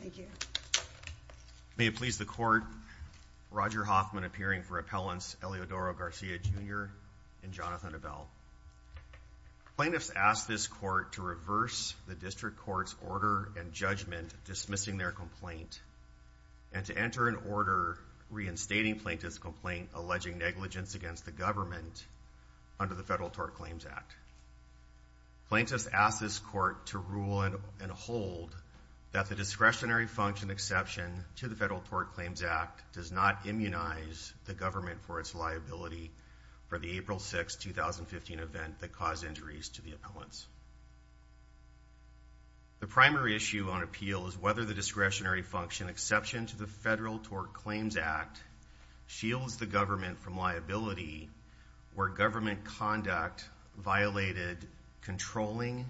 Thank you. May it please the court, Roger Hoffman appearing for appellants Eliodoro Garcia, Jr. and Jonathan Avell. Plaintiffs ask this court to reverse the district court's order and judgment dismissing their complaint and to enter an order reinstating plaintiffs complaint alleging negligence against the government under the Federal Tort Claims Act. Plaintiffs ask this court to rule and hold that the discretionary function exception to the Federal Tort Claims Act does not immunize the government for its liability for the April 6, 2015 event that caused injuries to the appellants. The primary issue on appeal is whether the discretionary function exception to the Federal Tort Claims Act shields the government from liability where government conduct violated controlling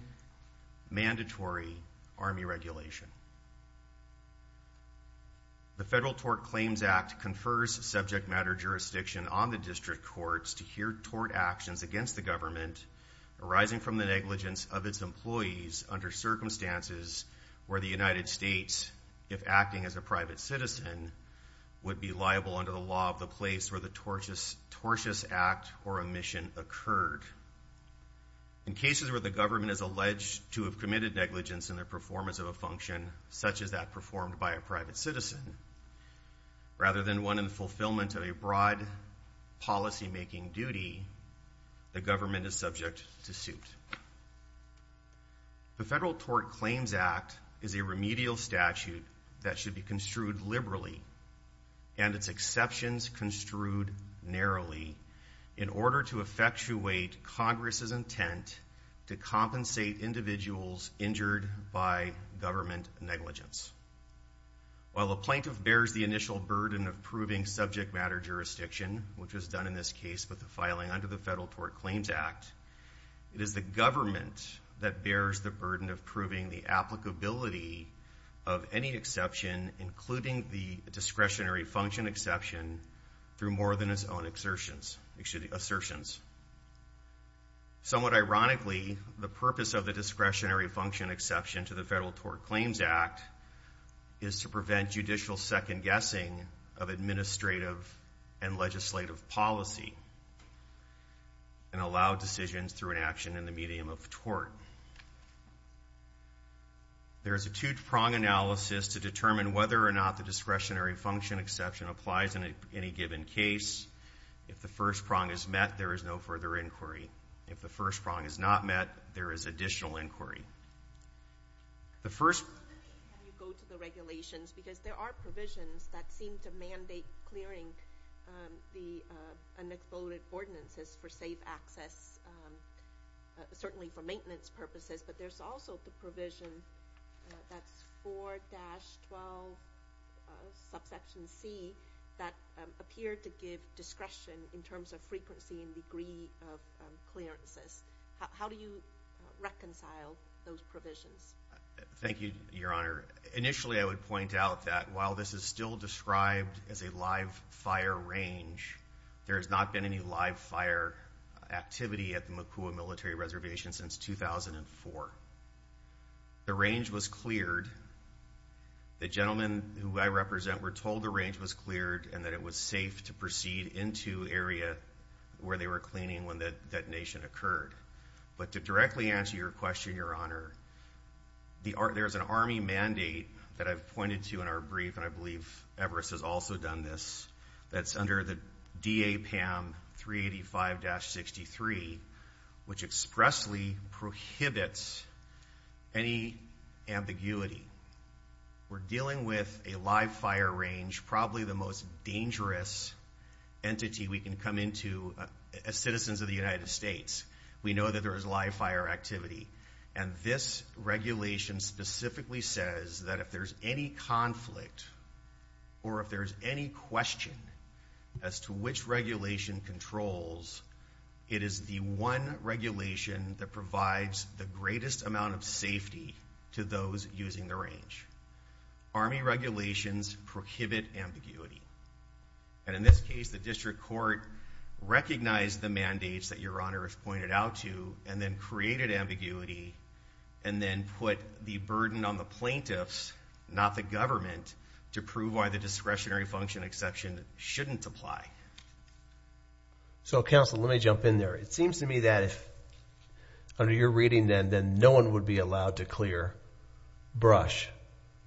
mandatory army regulation. The Federal Tort Claims Act confers subject matter jurisdiction on the district courts to hear tort actions against the government arising from the negligence of its employees under circumstances where the United States, if acting as a private citizen, would be liable under the law of the place where the tortious act or omission occurred. In cases where the government is alleged to have committed negligence in their performance of a function such as that performed by a private citizen, rather than one in the fulfillment of a broad policymaking duty, the government is subject to suit. The Federal Tort Claims Act is a remedial statute that should be construed liberally and its exceptions construed narrowly in order to effectuate Congress's intent to compensate individuals injured by government negligence. While a plaintiff bears the initial burden of proving subject matter jurisdiction, which was done in this case with the filing under the Federal Tort Claims Act, it is the government that bears the burden of proving the applicability of any exception, including the discretionary function exception, through more than its own assertions. Somewhat ironically, the purpose of the discretionary function exception to the Federal Tort Claims Act is to prevent judicial second-guessing of administrative and legislative policy and allow decisions through an action in the medium of tort. There is a two-prong analysis to determine whether or not the discretionary function exception applies in any given case. If the first prong is met, there is no further inquiry. If the first prong is not met, there is additional inquiry. The first... Can you go to the regulations? Because there are provisions that seem to mandate clearing the unafforded ordinances for safe access, certainly for maintenance purposes, but there's also the provision that's 4-12, subsection C, that appear to give discretion in terms of frequency and degree of clearances. How do you reconcile those provisions? Thank you, Your Honor. Initially, I would point out that while this is still described as a live fire range, there has not been any live fire activity at the Makua Military Reservation since 2004. The range was cleared. The gentlemen who I represent were told the range was cleared and that it was safe to proceed into area where they were cleaning when the detonation occurred. But to directly answer your question, Your Honor, there's an Army mandate that I've pointed to in our brief, and I believe Everest has also done this, that's under the D.A. PAM 385-63, which expressly prohibits any ambiguity. We're dealing with a live fire range, probably the most dangerous entity we can come into as citizens of the United States. We know that there is live fire activity, and this regulation specifically says that if there's any conflict or if there's any question as to which regulation controls, it is the one regulation that provides the greatest amount of safety to those using the range. Army regulations prohibit ambiguity. And in this case, the District Court recognized the mandates that Your Honor has pointed out to and then created ambiguity and then put the burden on the plaintiffs, not the government, to prove why the discretionary function exception shouldn't apply. So counsel, let me jump in there. It seems to me that if under your reading, then no one would be allowed to clear Brush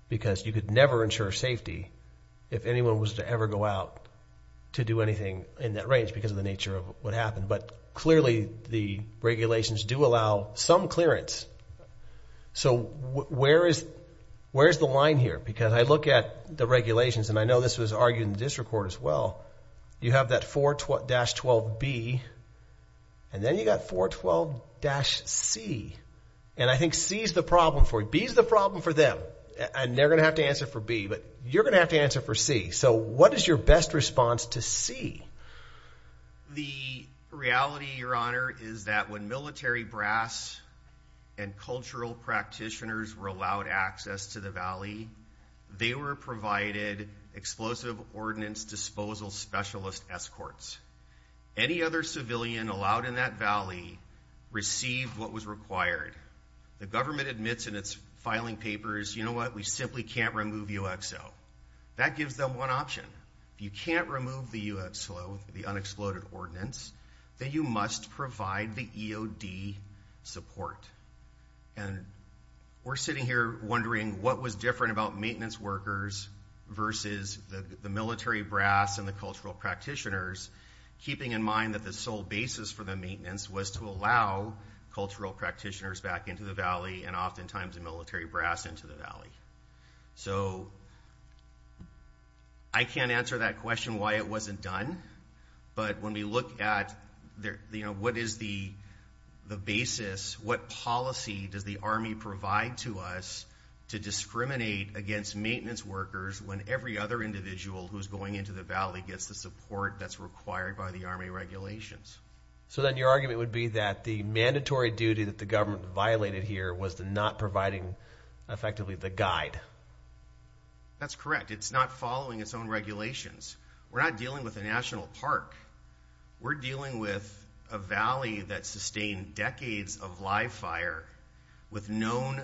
because you could never ensure safety if anyone was to ever go out to do anything in that range because of the nature of what happened. But where is the line here? Because I look at the regulations, and I know this was argued in the District Court as well. You have that 4-12B, and then you got 4-12-C. And I think C is the problem for you. B is the problem for them. And they're going to have to answer for B, but you're going to have to answer for C. So what is your best response to C? The reality, Your Honor, is that when military brass and cultural practitioners were allowed access to the valley, they were provided explosive ordinance disposal specialist escorts. Any other civilian allowed in that valley received what was required. The government admits in its filing papers, you know what, we simply can't remove UXO. That gives them one option. You can't remove the UXO, the unexploded ordinance, then you must provide the EOD support. And we're sitting here wondering what was different about maintenance workers versus the military brass and the cultural practitioners, keeping in mind that the sole basis for the maintenance was to allow cultural practitioners back into the valley and oftentimes the military brass into the valley. So I can't answer that question why it wasn't done, but when we look at what is the basis, what policy does the Army provide to us to discriminate against maintenance workers when every other individual who's going into the valley gets the support that's required by the Army regulations. So then your argument would be that the mandatory duty that the government violated here was the not providing effectively the guide. That's correct. It's not following its own regulations. We're not dealing with the National Park. We're dealing with a valley that sustained decades of live fire with known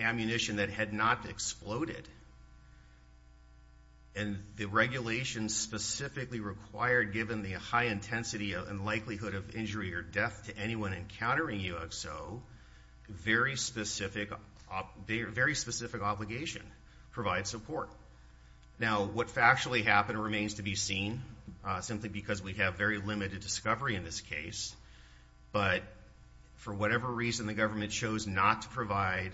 ammunition that had not exploded. And the regulations specifically required given the high intensity and likelihood of injury or death to anyone encountering UXO, very specific obligation, provide support. Now what actually happened remains to be seen, simply because we have very limited discovery in this case. But for whatever reason the government chose not to provide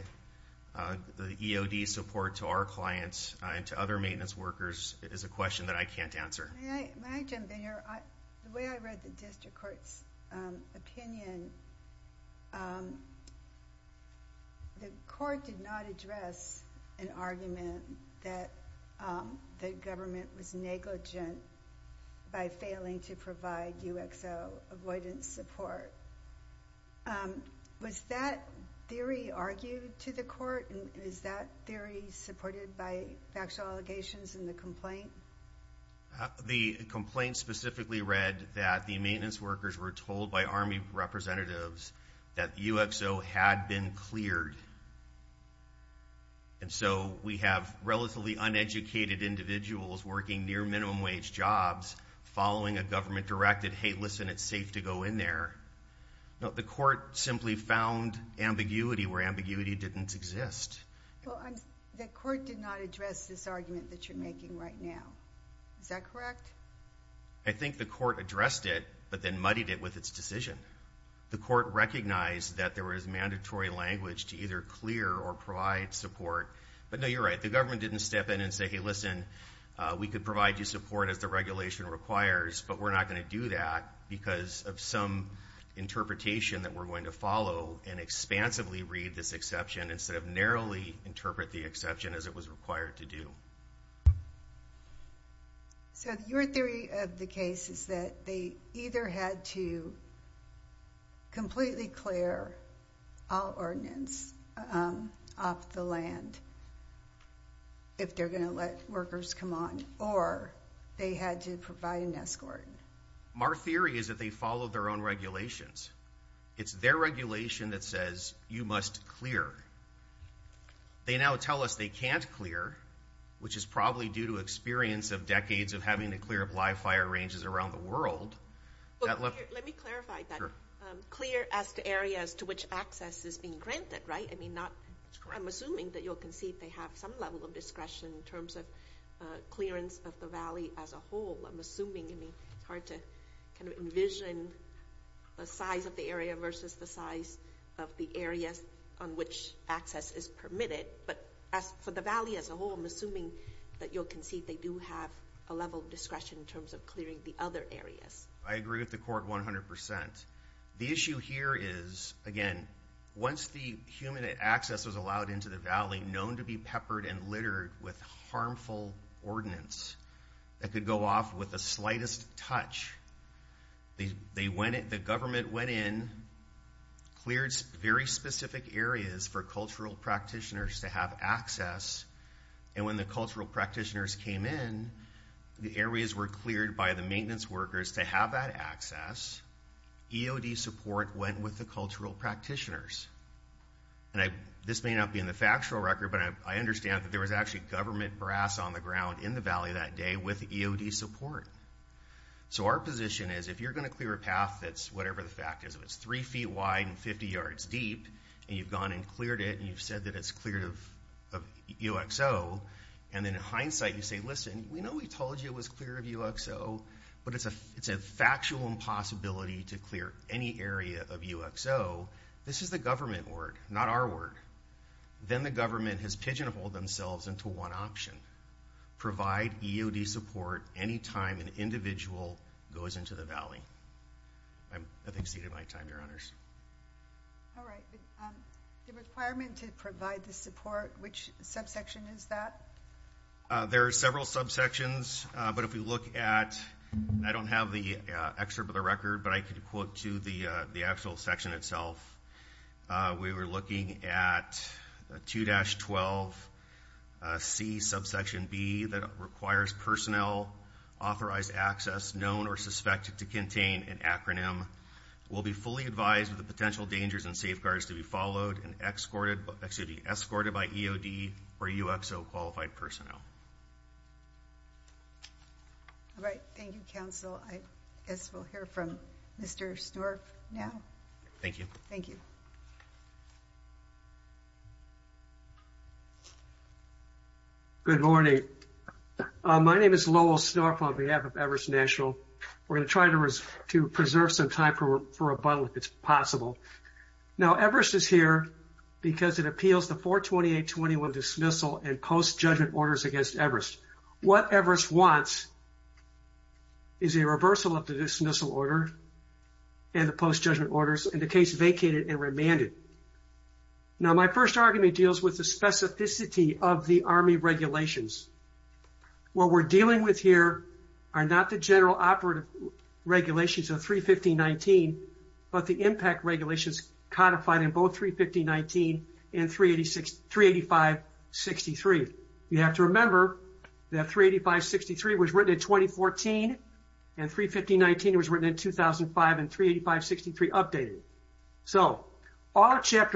the EOD support to our clients and to other maintenance workers is a question that I can't answer. May I jump in here? The way I read the district court's opinion, the court did not address an argument that the government was negligent by failing to provide UXO avoidance support. Was that theory argued to the court and is that theory supported by factual allegations in the complaint? The complaint specifically read that the maintenance workers were told by Army representatives that UXO had been cleared. And so we have relatively uneducated individuals working near minimum wage jobs following a government directed, hey, listen, it's safe to go in there. The court simply found ambiguity where ambiguity didn't exist. The court did not address this argument that you're making right now. Is that correct? I think the court addressed it, but then muddied it with its decision. The court recognized that there was mandatory language to either clear or provide support. But no, you're right. The government didn't step in and say, hey, listen, we could provide you support as the regulation requires, but we're not going to do that because of some interpretation that we're going to follow and expansively read this exception instead of narrowly interpret the exception as it was required to do. So your theory of the case is that they either had to completely clear all ordinance off the land if they're going to let workers come on, or they had to provide an escort. Our theory is that they followed their own regulations. It's their regulation that says you must clear. They now tell us they can't clear, which is probably due to experience of decades of having to clear up live fire ranges around the world. Let me clarify that. Clear as to areas to which access is being granted, right? I mean, I'm assuming that you'll concede they have some level of discretion in terms of clearance of the valley as a whole. I'm assuming. I mean, it's hard to kind of envision the size of the area versus the size of the areas on which access is permitted, but for the valley as a whole, I'm assuming that you'll concede they do have a level of discretion in terms of clearing the other areas. I agree with the court 100%. The issue here is, again, once the human access was allowed into the valley known to be peppered and littered with the government went in, cleared very specific areas for cultural practitioners to have access, and when the cultural practitioners came in, the areas were cleared by the maintenance workers to have that access. EOD support went with the cultural practitioners. And this may not be in the factual record, but I understand that there was actually government brass on the ground in the valley that day with EOD support. So our position is, if you're going clear a path that's, whatever the fact is, if it's three feet wide and 50 yards deep, and you've gone and cleared it, and you've said that it's cleared of UXO, and then in hindsight, you say, listen, we know we told you it was clear of UXO, but it's a factual impossibility to clear any area of UXO. This is the government word, not our word. Then the government has pigeonholed themselves into one option, provide EOD support any time an individual goes into the valley. I think I've exceeded my time, your honors. All right. The requirement to provide the support, which subsection is that? There are several subsections, but if we look at, I don't have the excerpt of the record, but I could quote to the actual section itself. We were looking at 2-12C subsection B that requires personnel authorized access known or suspected to contain an acronym. We'll be fully advised of the potential dangers and safeguards to be followed and escorted by EOD or UXO qualified personnel. All right. Thank you, counsel. I guess we'll hear from Mr. Snorf now. Thank you. Thank you. Good morning. My name is Lowell Snorf on behalf of Everest National. We're going to try to preserve some time for rebuttal if it's possible. Now, Everest is here because it appeals the 42821 dismissal and post-judgment orders against Everest. What Everest wants is a reversal of the dismissal order and the post-judgment orders, in the case vacated and remanded. Now, my first argument deals with the specificity of the Army regulations. What we're dealing with here are not the general operative regulations of 31519, but the impact regulations codified in both 31519 and 38563. You have to remember that 38563 was Chapter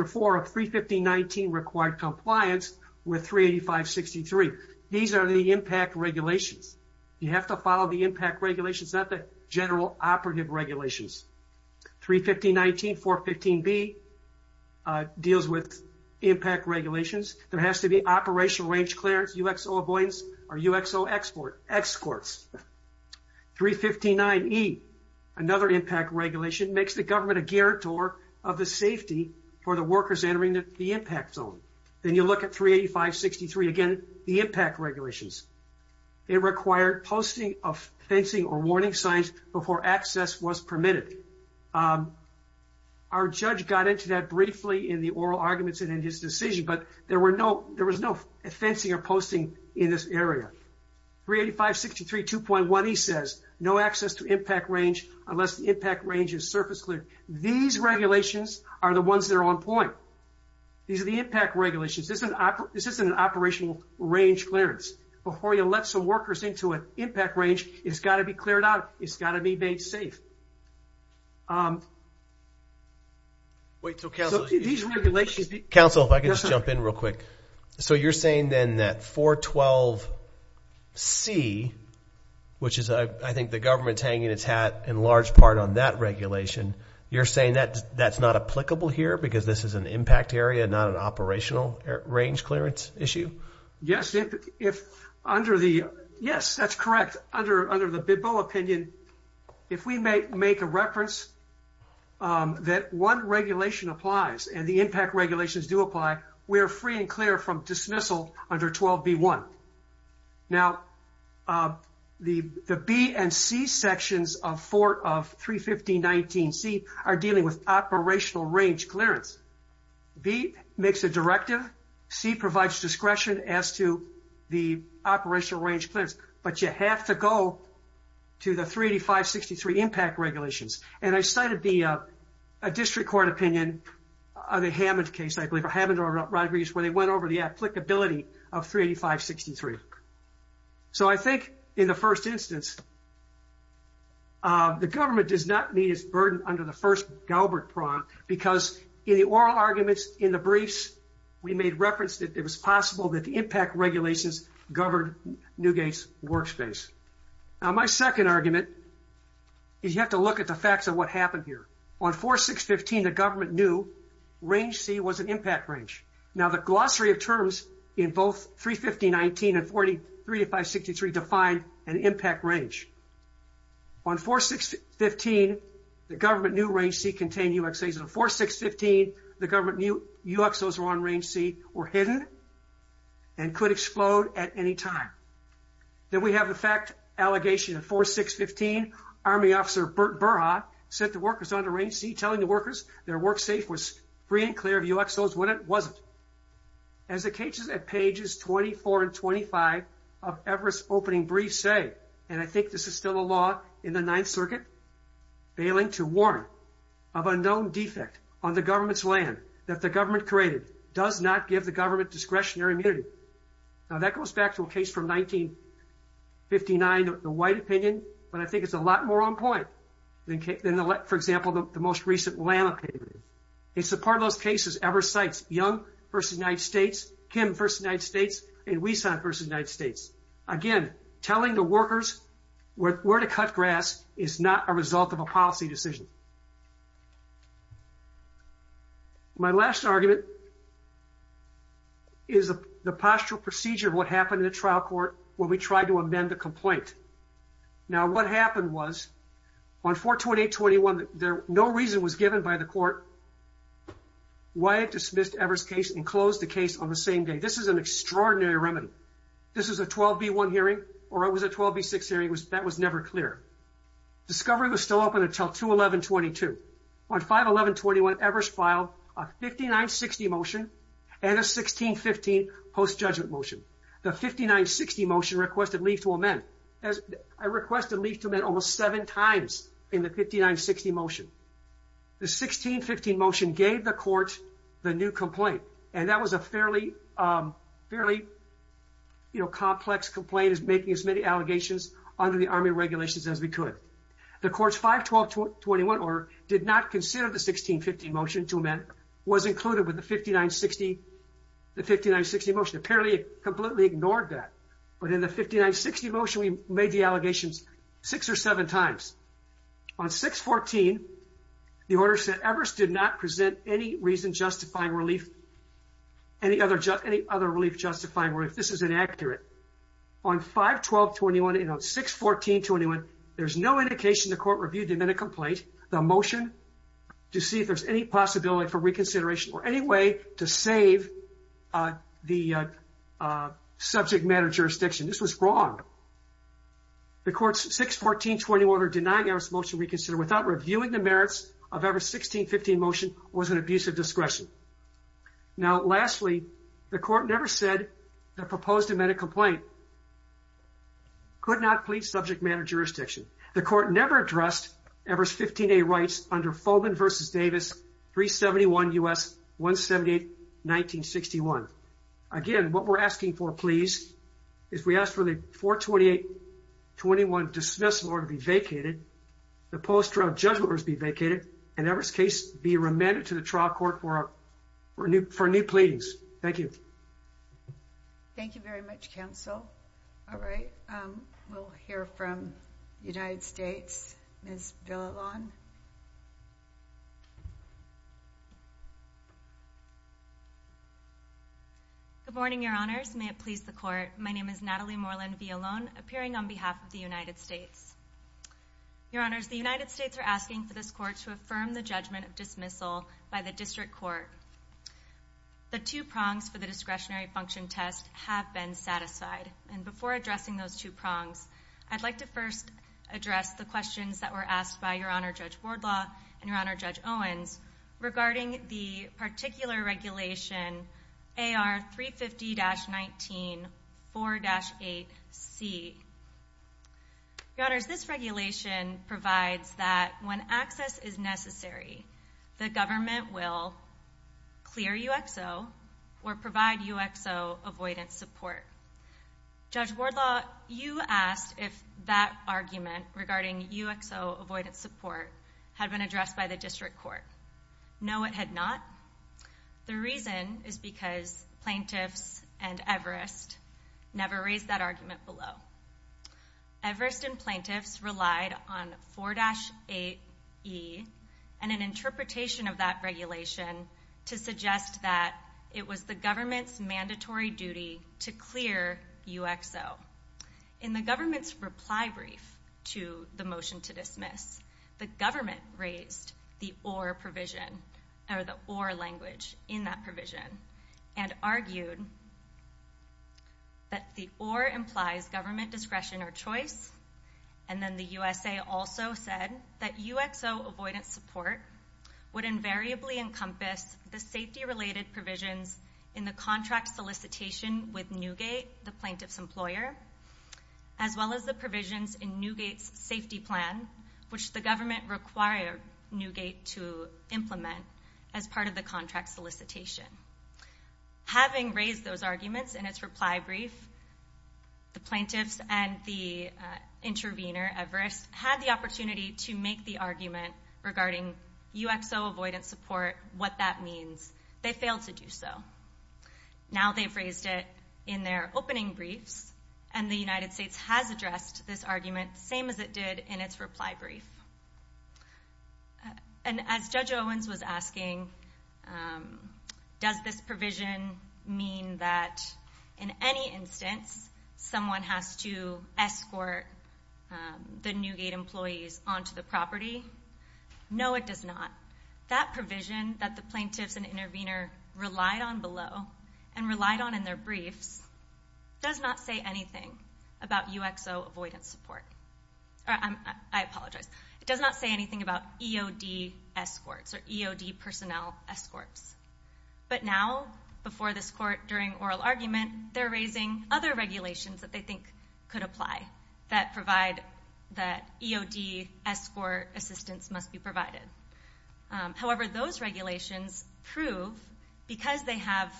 4 of 31519 required compliance with 38563. These are the impact regulations. You have to follow the impact regulations, not the general operative regulations. 31519, 415B deals with impact regulations. There has to be operational range clearance, UXO avoidance, or UXO exports. 359E, another impact regulation, makes the government a workers entering the impact zone. Then you look at 38563, again, the impact regulations. It required posting of fencing or warning signs before access was permitted. Our judge got into that briefly in the oral arguments and in his decision, but there was no fencing or posting in this area. 38563, 2.1, he says, no access to impact range to surface clearance. These regulations are the ones that are on point. These are the impact regulations. This isn't an operational range clearance. Before you let some workers into an impact range, it's got to be cleared out. It's got to be made safe. These regulations... Counsel, if I could just jump in real quick. You're saying then that 412C, which I think the government's hanging its hat in large part on that regulation, you're saying that that's not applicable here because this is an impact area, not an operational range clearance issue? Yes, that's correct. Under the Bidble opinion, if we make a reference that one regulation applies and the impact regulations do apply, we're free and clear from dismissal under 12B1. Now, the B and C sections of 31519C are dealing with operational range clearance. B makes a directive. C provides discretion as to the operational range clearance, but you have to go to the 38563 impact regulations. I cited the district court opinion of the Hammond case, I believe, or Hammond or Rodriguez, where they went over the applicability of 38563. So I think in the first instance, the government does not need its burden under the first Galbert prong because in the oral arguments in the briefs, we made reference that it was possible that the impact regulations governed Newgate's workspace. Now, my second argument is you have to look at the facts of what happened here. On 4615, the government knew range C was an impact range. Now, the glossary of terms in both 31519 and 38563 define an impact range. On 4615, the government knew range C contained UXAs. On 4615, the government knew UXOs were on range C were hidden and could explode at any time. Then we have the fact allegation of 4615, Army Officer Bert Burha set the workers under range C, telling the workers their work safe was free and clear of UXOs when it wasn't. As the cases at pages 24 and 25 of Everest opening briefs say, and I think this is still a law in the Ninth Circuit, bailing to warn of a known defect on the government's land that the government created does not give the government discretionary immunity. Now, that goes back to a case from 1959, the White opinion, but I think it's a lot more on point than, for example, the most recent Lamb opinion. It's a part of those cases, Everest sites, Young versus United States, Kim versus United States, and Wieson versus United States. Again, telling the workers where to cut grass is not a good thing. It's not a good thing. It's not a good thing. Now, what happened is the postural procedure of what happened in the trial court when we tried to amend the complaint. Now, what happened was on 42821, no reason was given by the court why it dismissed Everest's case and closed the case on the same day. This is an extraordinary remedy. This is a 12B1 hearing, or it was a 12B6 hearing, that was never clear. Discovery was still open until 21122. On 51121, Everest filed a 5960 motion and a 1615 post-judgment motion. The 5960 motion requested leave to amend. I requested leave to amend almost seven times in the 5960 motion. The 1615 motion gave the court the new complaint, and that was a fairly complex complaint, making as many allegations under the Army regulations as we could. The court's 51221 order did not consider the 1615 motion to amend. It was included with the 5960 motion. Apparently, it completely ignored that, but in the 5960 motion, we made the allegations six or seven times. On 614, the order said Everest did not present any reason justifying relief, any other relief justifying relief. This is inaccurate. On 51221 and on 61421, there's no indication the court reviewed the amendment complaint, the motion, to see if there's any possibility for reconsideration or any way to save the subject matter jurisdiction. This was wrong. The court's 61421 order denying Everest's motion to reconsider without reviewing the merits of Everest's 1615 motion was an inaccurate amendment. Lastly, the court never said the proposed amendment complaint could not plead subject matter jurisdiction. The court never addressed Everest's 15A rights under Foman v. Davis 371 U.S. 178-1961. Again, what we're asking for, please, is we ask for the 42821 dismissal order to be vacated, the post-trial judgment order to be vacated. Thank you. Thank you very much, counsel. All right, we'll hear from the United States, Ms. Villalon. Good morning, Your Honors. May it please the court. My name is Natalie Moreland-Villalon, appearing on behalf of the United States. Your Honors, the United States are asking for this court. The two prongs for the discretionary function test have been satisfied. And before addressing those two prongs, I'd like to first address the questions that were asked by Your Honor Judge Wardlaw and Your Honor Judge Owens regarding the particular regulation AR 350-19 4-8C. Your Honors, this regulation provides that when access is necessary, the government will clear UXO or provide UXO avoidance support. Judge Wardlaw, you asked if that argument regarding UXO avoidance support had been addressed by the district court. No, it had not. The reason is because plaintiffs and Everest never raised that argument below. Everest and plaintiffs relied on 4-8E and an interpretation of that regulation to suggest that it was the government's mandatory duty to clear UXO. In the government's reply brief to the motion to dismiss, the government raised the or provision or the or language in that discretion or choice. And then the USA also said that UXO avoidance support would invariably encompass the safety-related provisions in the contract solicitation with Newgate, the plaintiff's employer, as well as the provisions in Newgate's safety plan, which the government required Newgate to implement as part of the contract solicitation. Having raised those arguments in its reply brief, the plaintiffs and the intervener, Everest, had the opportunity to make the argument regarding UXO avoidance support, what that means. They failed to do so. Now they've raised it in their opening briefs and the United States has addressed this argument, same as it did in its instance, someone has to escort the Newgate employees onto the property. No, it does not. That provision that the plaintiffs and intervener relied on below and relied on in their briefs does not say anything about UXO avoidance support. I apologize. It does not say anything about EOD escorts or EOD personnel escorts. But now, before this court, during oral argument, they're raising other regulations that they think could apply that provide that EOD escort assistance must be provided. However, those regulations prove, because they have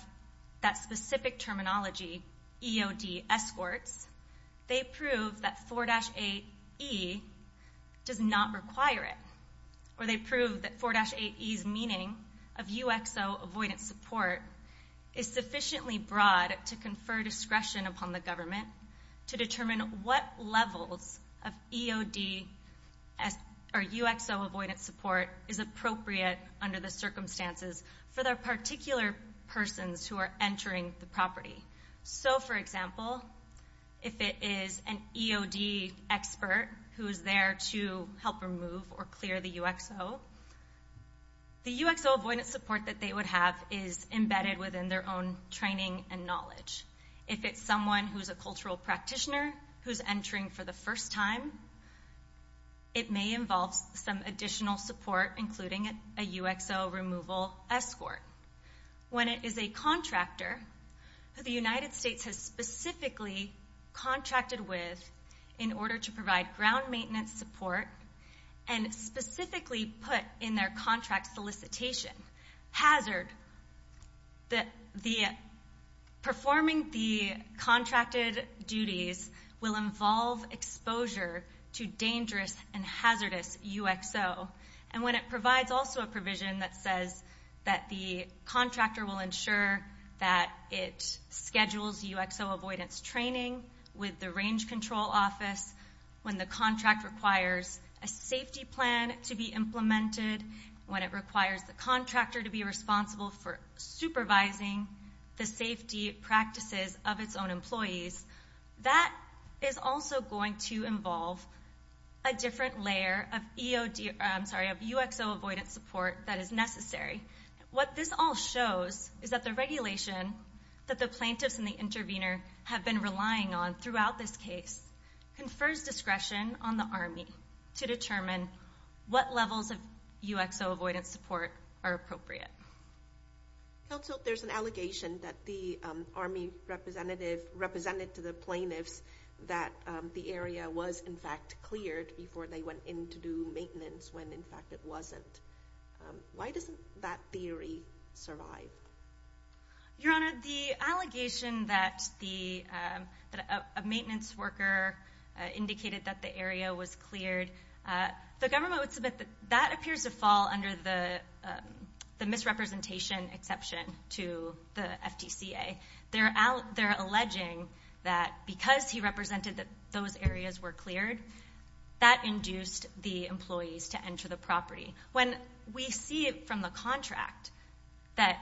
that specific terminology, EOD escorts, they prove that 4-8E does not require it. Or they prove that 4-8E's meaning of UXO avoidance support is sufficiently broad to confer discretion upon the government to determine what levels of EOD or UXO avoidance support is appropriate under the circumstances for their particular persons who are entering the property. So, for example, if it is an EOD expert who is there to help remove or clear the UXO, the UXO avoidance support that they would have is embedded within their own training and knowledge. If it's someone who's a cultural practitioner who's entering for the first time, it may involve some additional support, including a UXO removal escort. When it is a contractor who the United States has specifically contracted with in order to provide ground maintenance support and specifically put in their contract solicitation hazard, performing the contracted duties will involve exposure to a provision that says that the contractor will ensure that it schedules UXO avoidance training with the range control office. When the contract requires a safety plan to be implemented, when it requires the contractor to be responsible for supervising the safety practices of its own is necessary, what this all shows is that the regulation that the plaintiffs and the intervener have been relying on throughout this case confers discretion on the Army to determine what levels of UXO avoidance support are appropriate. Also, there's an allegation that the Army representative represented to the plaintiffs that the area was, in fact, cleared before they went in to do maintenance when, in fact, it wasn't. Why doesn't that theory survive? Your Honor, the allegation that a maintenance worker indicated that the area was cleared, the government would submit that that appears to fall under the misrepresentation exception to the FTCA. They're alleging that because he represented that those see it from the contract that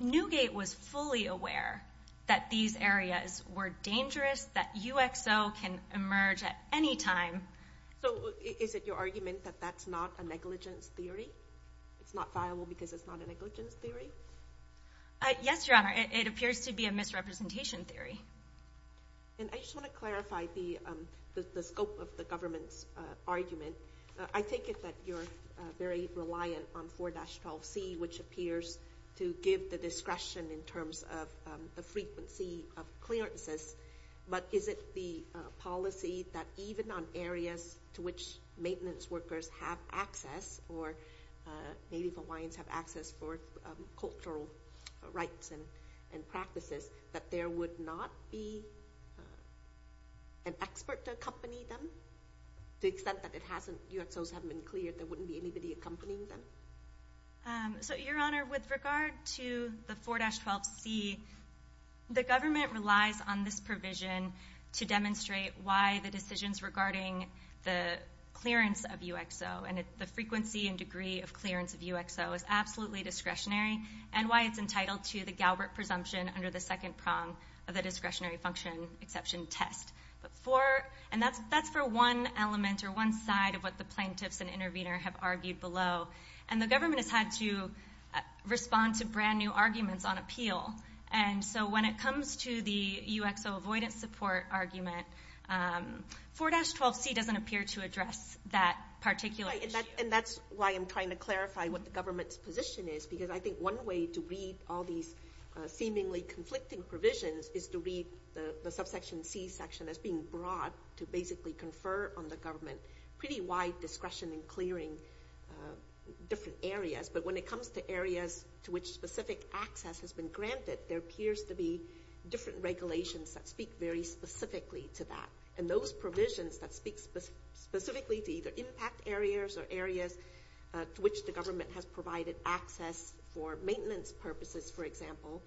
Newgate was fully aware that these areas were dangerous, that UXO can emerge at any time. Is it your argument that that's not a negligence theory? It's not viable because it's not a negligence theory? Yes, Your Honor. It appears to be a misrepresentation theory. I just want to clarify the scope of the government's argument. I take it that you're very reliant on 4-12C, which appears to give the discretion in terms of the frequency of clearances, but is it the policy that even on areas to which maintenance workers have access or Native Hawaiians have access for cultural rights and practices, that there would not be an expert to accompany them? To the extent that UXOs haven't been cleared, there wouldn't be anybody accompanying them? Your Honor, with regard to the 4-12C, the government relies on this provision to demonstrate why the decisions regarding the clearance of UXO and the frequency and degree of clearance of UXO is absolutely discretionary and why it's entitled to the Galbert presumption under the second prong of the discretionary function exception test. That's for one element or one side of what the plaintiffs and have argued below. The government has had to respond to brand new arguments on appeal. When it comes to the UXO avoidance support argument, 4-12C doesn't appear to address that particular issue. That's why I'm trying to clarify what the government's position is, because I think one way to read all these seemingly conflicting provisions is to read the subsection C section that's being brought to basically confer on the government pretty wide discretion in clearing different areas. When it comes to areas to which specific access has been granted, there appears to be different regulations that speak very specifically to that. Those provisions that speak specifically to either impact areas or areas to which the government has provided access for maintenance purposes, for example,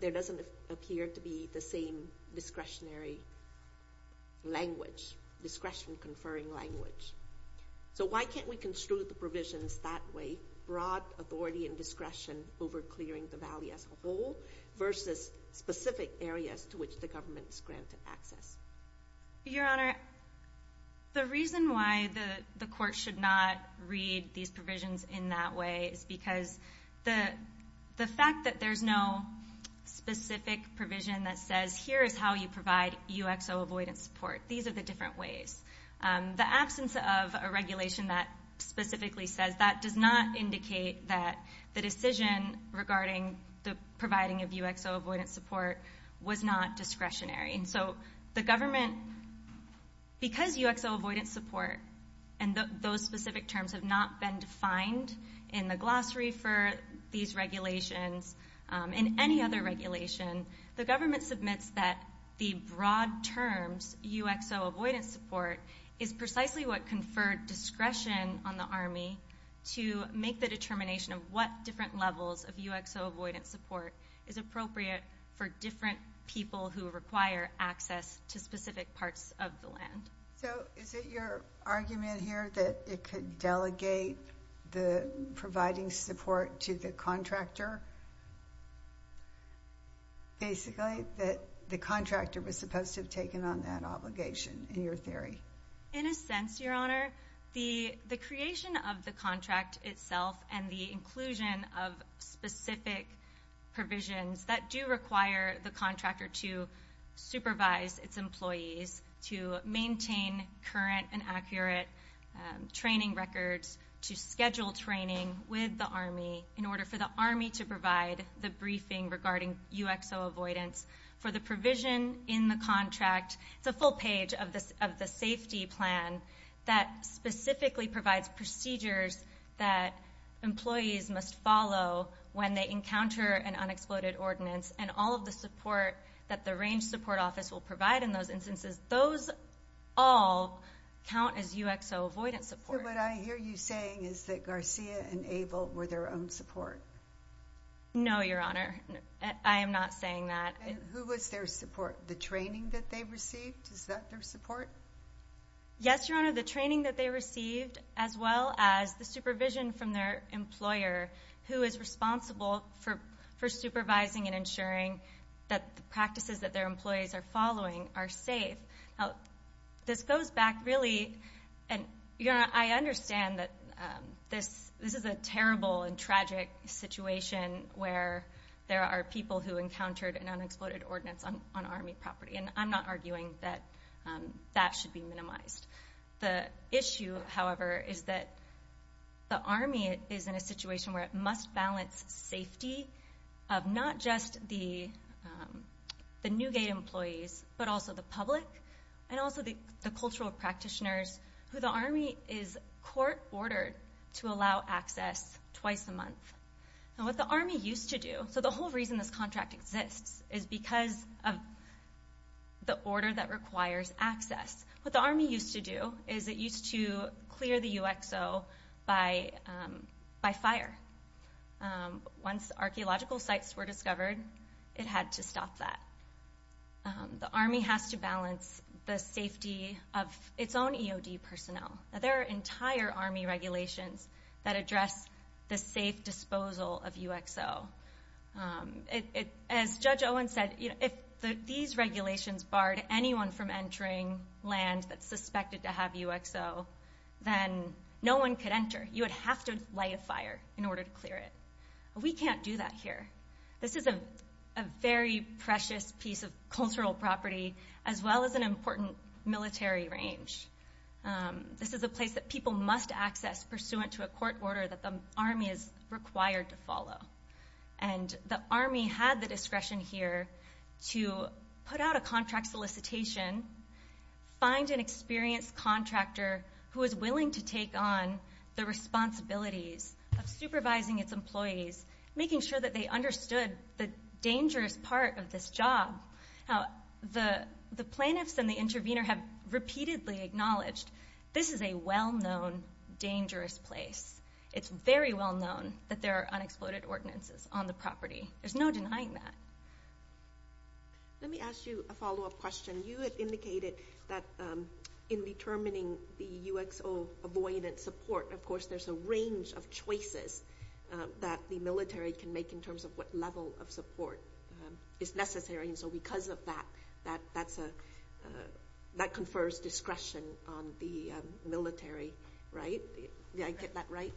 there doesn't appear to be the same discretionary language, discretion conferring language. Why can't we construe the provisions that way, broad authority and discretion over clearing the valley as a whole versus specific areas to which the government is granted access? Your Honor, the reason why the court should not read these provisions in that way is because the fact that there's no specific provision that says here is how you provide UXO avoidance support. These are the different ways. The absence of a regulation that specifically says that does not indicate that the decision regarding the providing of UXO avoidance support was not discretionary. So the government, because UXO avoidance support and those specific terms have not been defined in the glossary for these regulations, in any other regulation, the government submits that the broad terms UXO avoidance support is precisely what conferred discretion on the Army to make the determination of what different levels of UXO avoidance support is appropriate for different people who require access to specific parts of the land. So is it your argument here that it could delegate the providing support to the contractor, basically, that the contractor was supposed to have taken on that obligation, in your theory? In a sense, Your Honor, the creation of the contract itself and the inclusion of specific provisions that do require the contractor to supervise its employees, to provide the briefing regarding UXO avoidance, for the provision in the contract, the full page of the safety plan that specifically provides procedures that employees must follow when they encounter an unexploded ordinance and all of the support that the range support office will provide in those instances, those all count as UXO avoidance support. What I hear you saying is that No, Your Honor. I am not saying that. And who was their support? The training that they received? Is that their support? Yes, Your Honor, the training that they received, as well as the supervision from their employer, who is responsible for supervising and ensuring that the practices that their employees are following are safe. This goes back, really, and Your Honor, I understand that this is a terrible and tragic situation where there are people who encountered an unexploded ordinance on Army property, and I'm not arguing that that should be minimized. The issue, however, is that the Army is in a situation where it must balance safety of not just the Newgate employees, but also the public, and also the cultural practitioners, who the Army is court-ordered to allow access twice a month. Now, what the Army used to do, so the whole reason this contract exists is because of the order that requires access. What the Army used to do is it used to clear the UXO by fire. Once archaeological sites were discovered, it had to stop that. The Army has to balance the safety of its own EOD personnel. Now, there are entire Army regulations that address the safe disposal of UXO. As Judge Owen said, if these regulations barred anyone from entering land that's suspected to have UXO, then no one could enter. You would have to light a fire in order to clear it. We can't do that here. This is a very precious piece of cultural property, as well as an important military range. This is a place that people must access pursuant to a court order that the Army is required to follow. The Army had the discretion here to put out a contract solicitation, find an experienced contractor who is willing to take on the responsibilities of supervising its employees, making sure that they understood the dangerous part of this job. The plaintiffs and the intervener have repeatedly acknowledged this is a well-known dangerous place. It's very well known that there are unexploded ordinances on the property. There's no denying that. Let me ask you a follow-up question. You had indicated that in determining the UXO avoidance support, there's a range of choices that the military can make in terms of what level of support is necessary. Because of that, that confers discretion on the military. Did I get that right?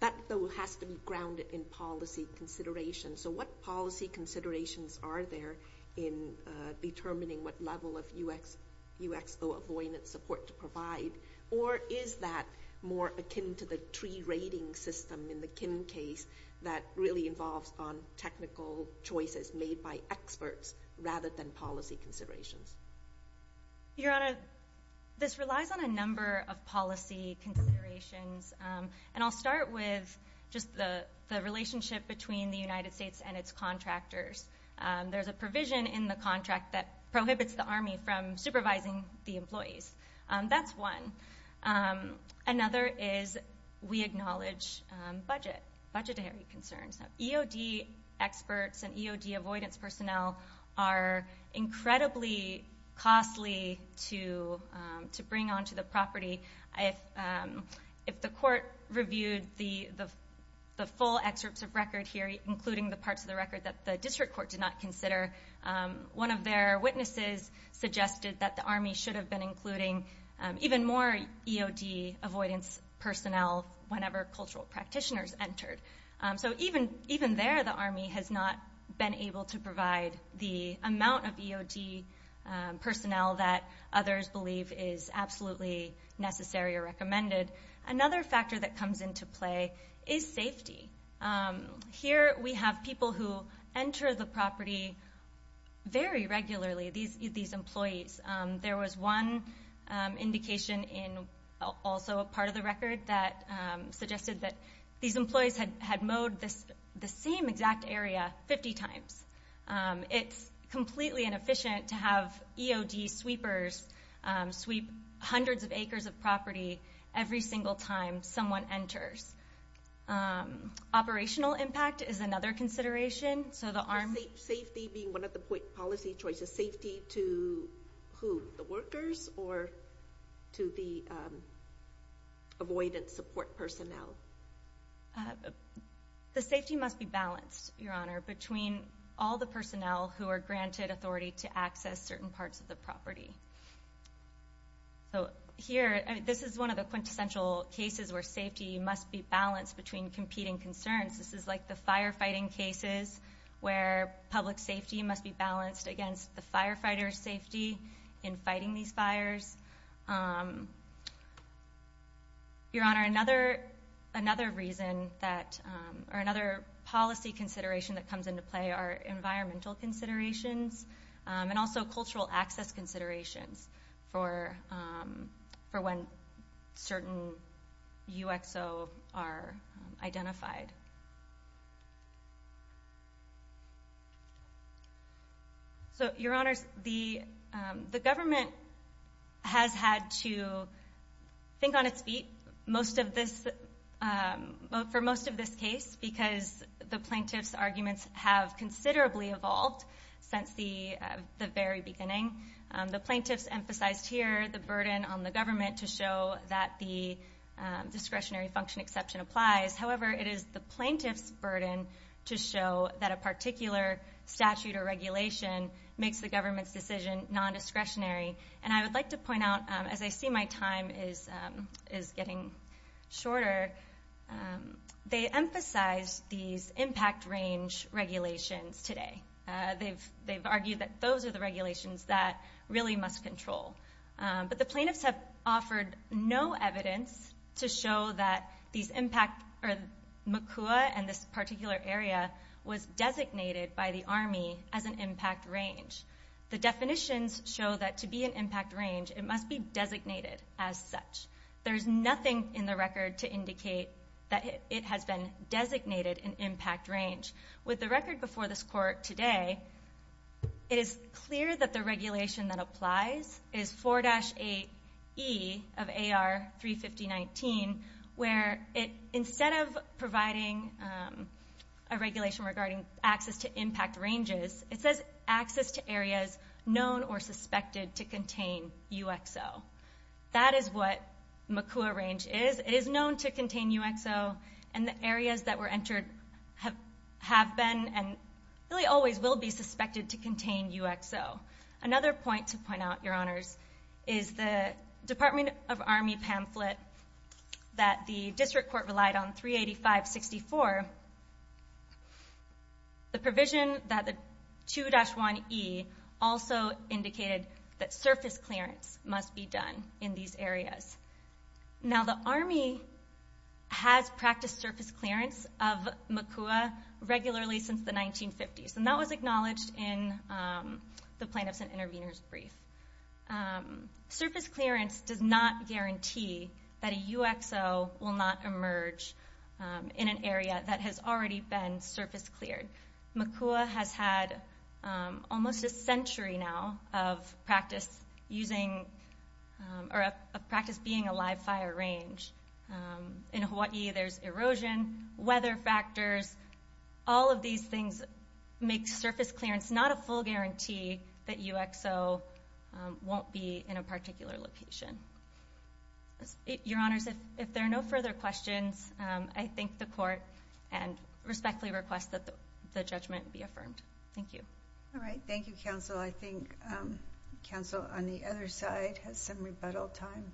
That has to be grounded in policy considerations. What policy considerations are there in determining what level of UXO avoidance support to provide? Or is that more akin to the tree rating system in the Kim case that really involves on technical choices made by experts rather than policy considerations? Your Honor, this relies on a number of policy considerations. I'll start with just the contractors. There's a provision in the contract that prohibits the Army from supervising the employees. That's one. Another is we acknowledge budgetary concerns. EOD experts and EOD avoidance personnel are incredibly costly to bring onto the property. If the court reviewed the full excerpts of record here, including the parts of the record that the district court did not consider, one of their witnesses suggested that the Army should have been including even more EOD avoidance personnel whenever cultural practitioners entered. Even there, the Army has not been able to provide the amount of EOD personnel that others believe is absolutely necessary or recommended. Another factor that comes into play is safety. Here we have people who enter the property very regularly, these employees. There was one indication in also a part of the record that suggested that these employees had mowed the same exact area 50 times. It's completely inefficient to have EOD sweepers sweep hundreds of acres of property every single time someone enters. Operational impact is another consideration. Safety being one of the policy choices. Safety to the workers or to the avoidance support personnel? The safety must be balanced, Your Honor, between all the personnel who are granted authority to access certain parts of the property. This is one of the quintessential cases where safety must be balanced between competing concerns. This is like the firefighting cases where public safety must be balanced against the firefighter's safety in fighting these fires. Your Honor, another policy consideration that comes into play are environmental considerations and also cultural access considerations for when certain UXO are identified. Your Honor, the government has had to on its feet for most of this case because the plaintiff's arguments have considerably evolved since the very beginning. The plaintiff's emphasized here the burden on the government to show that the discretionary function exception applies. However, it is the plaintiff's burden to show that a particular statute or regulation makes the government's decision non-discretionary. I would like to point out, as I see my time is getting shorter, they emphasize these impact range regulations today. They've argued that those are the regulations that really must control. But the plaintiffs have offered no evidence to show that these impacts or MACUA and this particular area was designated by the Army as an impact range. The definitions show that to be an impact range, it must be designated as such. There's nothing in the record to indicate that it has been designated an impact range. With the record before this court today, it is clear that the regulation that applies is 4-8E of AR 35019, where instead of providing a regulation regarding access to impact ranges, it says access to areas known or suspected to contain UXO. That is what MACUA range is. It is known to contain UXO and the areas that were entered have been and really always will be suspected to contain UXO. Another point to remember, the provision that the 2-1E also indicated that surface clearance must be done in these areas. Now the Army has practiced surface clearance of MACUA regularly since the 1950s and that was acknowledged in the plaintiffs and intervenors brief. Surface clearance does not already have been surface cleared. MACUA has had almost a century now of practice being a live fire range. In Hawaii, there's erosion, weather factors, all of these things make surface clearance not a full guarantee that UXO won't be in a particular location. Your Honors, if there are no further questions, I thank the court and respectfully request that the judgment be affirmed. Thank you. All right. Thank you, Counsel. I think Counsel on the other side has some rebuttal time.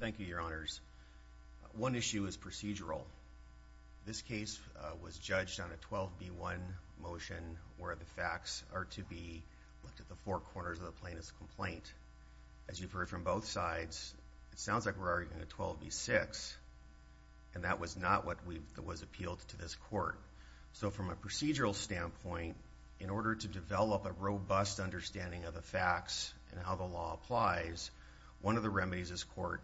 Thank you, Your Honors. One issue is procedural. This case was judged on a 12B1 motion where the looked at the four corners of the plaintiff's complaint. As you've heard from both sides, it sounds like we're arguing a 12B6 and that was not what was appealed to this court. So from a procedural standpoint, in order to develop a robust understanding of the facts and how the law applies, one of the remedies this court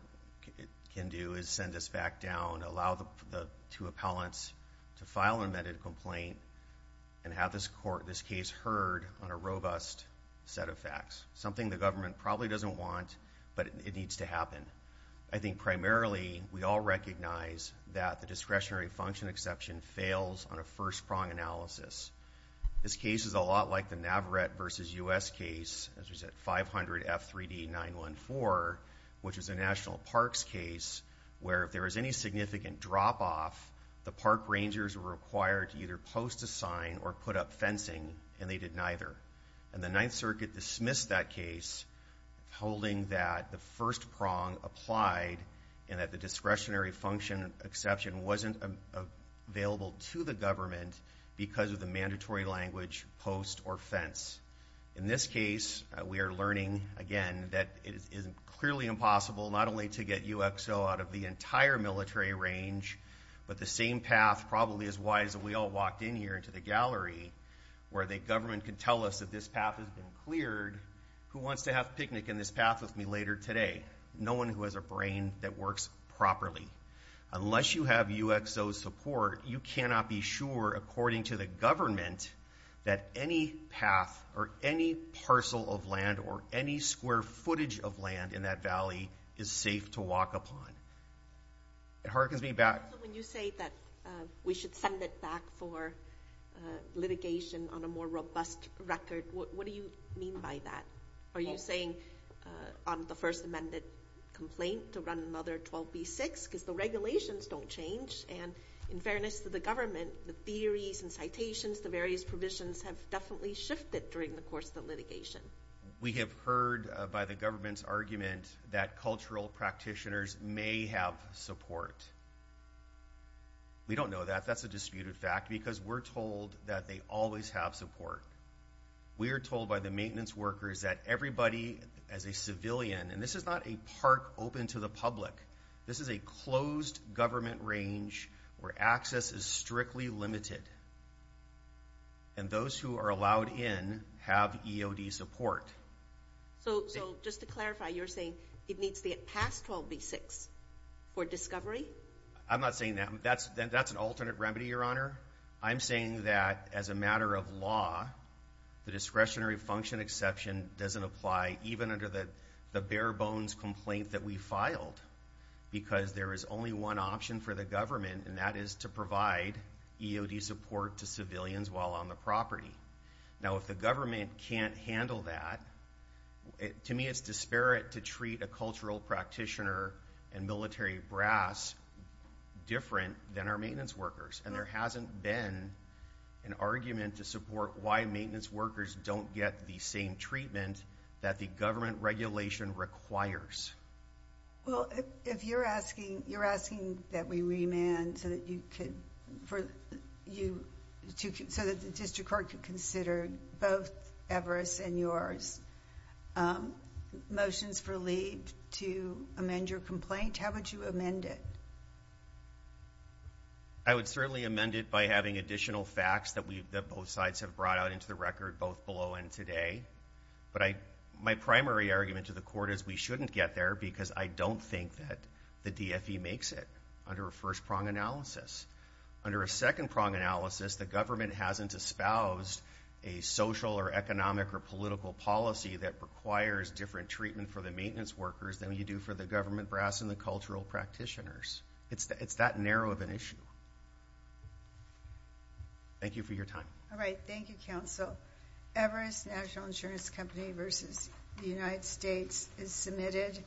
can do is send this back down, allow the two appellants to file an amended complaint and have this court, this case heard on a robust set of facts. Something the government probably doesn't want, but it needs to happen. I think primarily we all recognize that the discretionary function exception fails on a first prong analysis. This case is a lot like the Navarette versus U.S. case, as we said, 500 F3D 914, which is a significant drop-off. The park rangers were required to either post a sign or put up fencing, and they did neither. And the Ninth Circuit dismissed that case, holding that the first prong applied and that the discretionary function exception wasn't available to the government because of the mandatory language post or fence. In this case, we are learning again that it is clearly impossible not only to get UXO out of the entire military range, but the same path, probably as wise as we all walked in here into the gallery, where the government can tell us that this path has been cleared, who wants to have a picnic in this path with me later today? No one who has a brain that works properly. Unless you have UXO support, you cannot be sure, according to the government, that any path or any parcel of land or any square footage of land in that valley is safe to walk upon. It hearkens me back... So when you say that we should send it back for litigation on a more robust record, what do you mean by that? Are you saying on the First Amendment complaint to run another 12b6? Because the regulations don't change, and in fairness to the government, the theories and citations, the various provisions have definitely shifted during the course of the litigation. We have heard by the government's argument that cultural practitioners may have support. We don't know that. That's a disputed fact, because we're told that they always have support. We are told by the maintenance workers that everybody, as a civilian, and this is not a park open to the public. This is a closed government range where access is strictly limited. And those who are allowed in have EOD support. So just to clarify, you're saying it needs to get past 12b6 for discovery? I'm not saying that. That's an alternate remedy, Your Honor. I'm saying that as a matter of law, the discretionary function exception doesn't apply even under the bare bones complaint that we filed, because there is only one option for the government, and that is to provide EOD support to civilians while on the property. Now, if the government can't handle that, to me it's disparate to treat a cultural practitioner and military brass different than our maintenance workers. And there hasn't been an argument to support why maintenance workers don't get the same treatment that the government regulation requires. Well, if you're asking, you're asking that we remand so that you could, for you to, so that the district court could consider both Everest and yours. Motions for leave to amend your complaint, how would you amend it? I would certainly amend it by having additional facts that we've, that both sides have brought out into the record, both below and today. But I, my primary argument to the court is we shouldn't get there because I don't think that the DFE makes it under a first-prong analysis. Under a second-prong analysis, the government hasn't espoused a social or economic or political policy that requires different treatment for the maintenance workers than you do for the government brass and the cultural practitioners. It's that narrow of an issue. Thank you for your time. All right, thank you, counsel. Everest National Insurance Company versus the United States is submitted.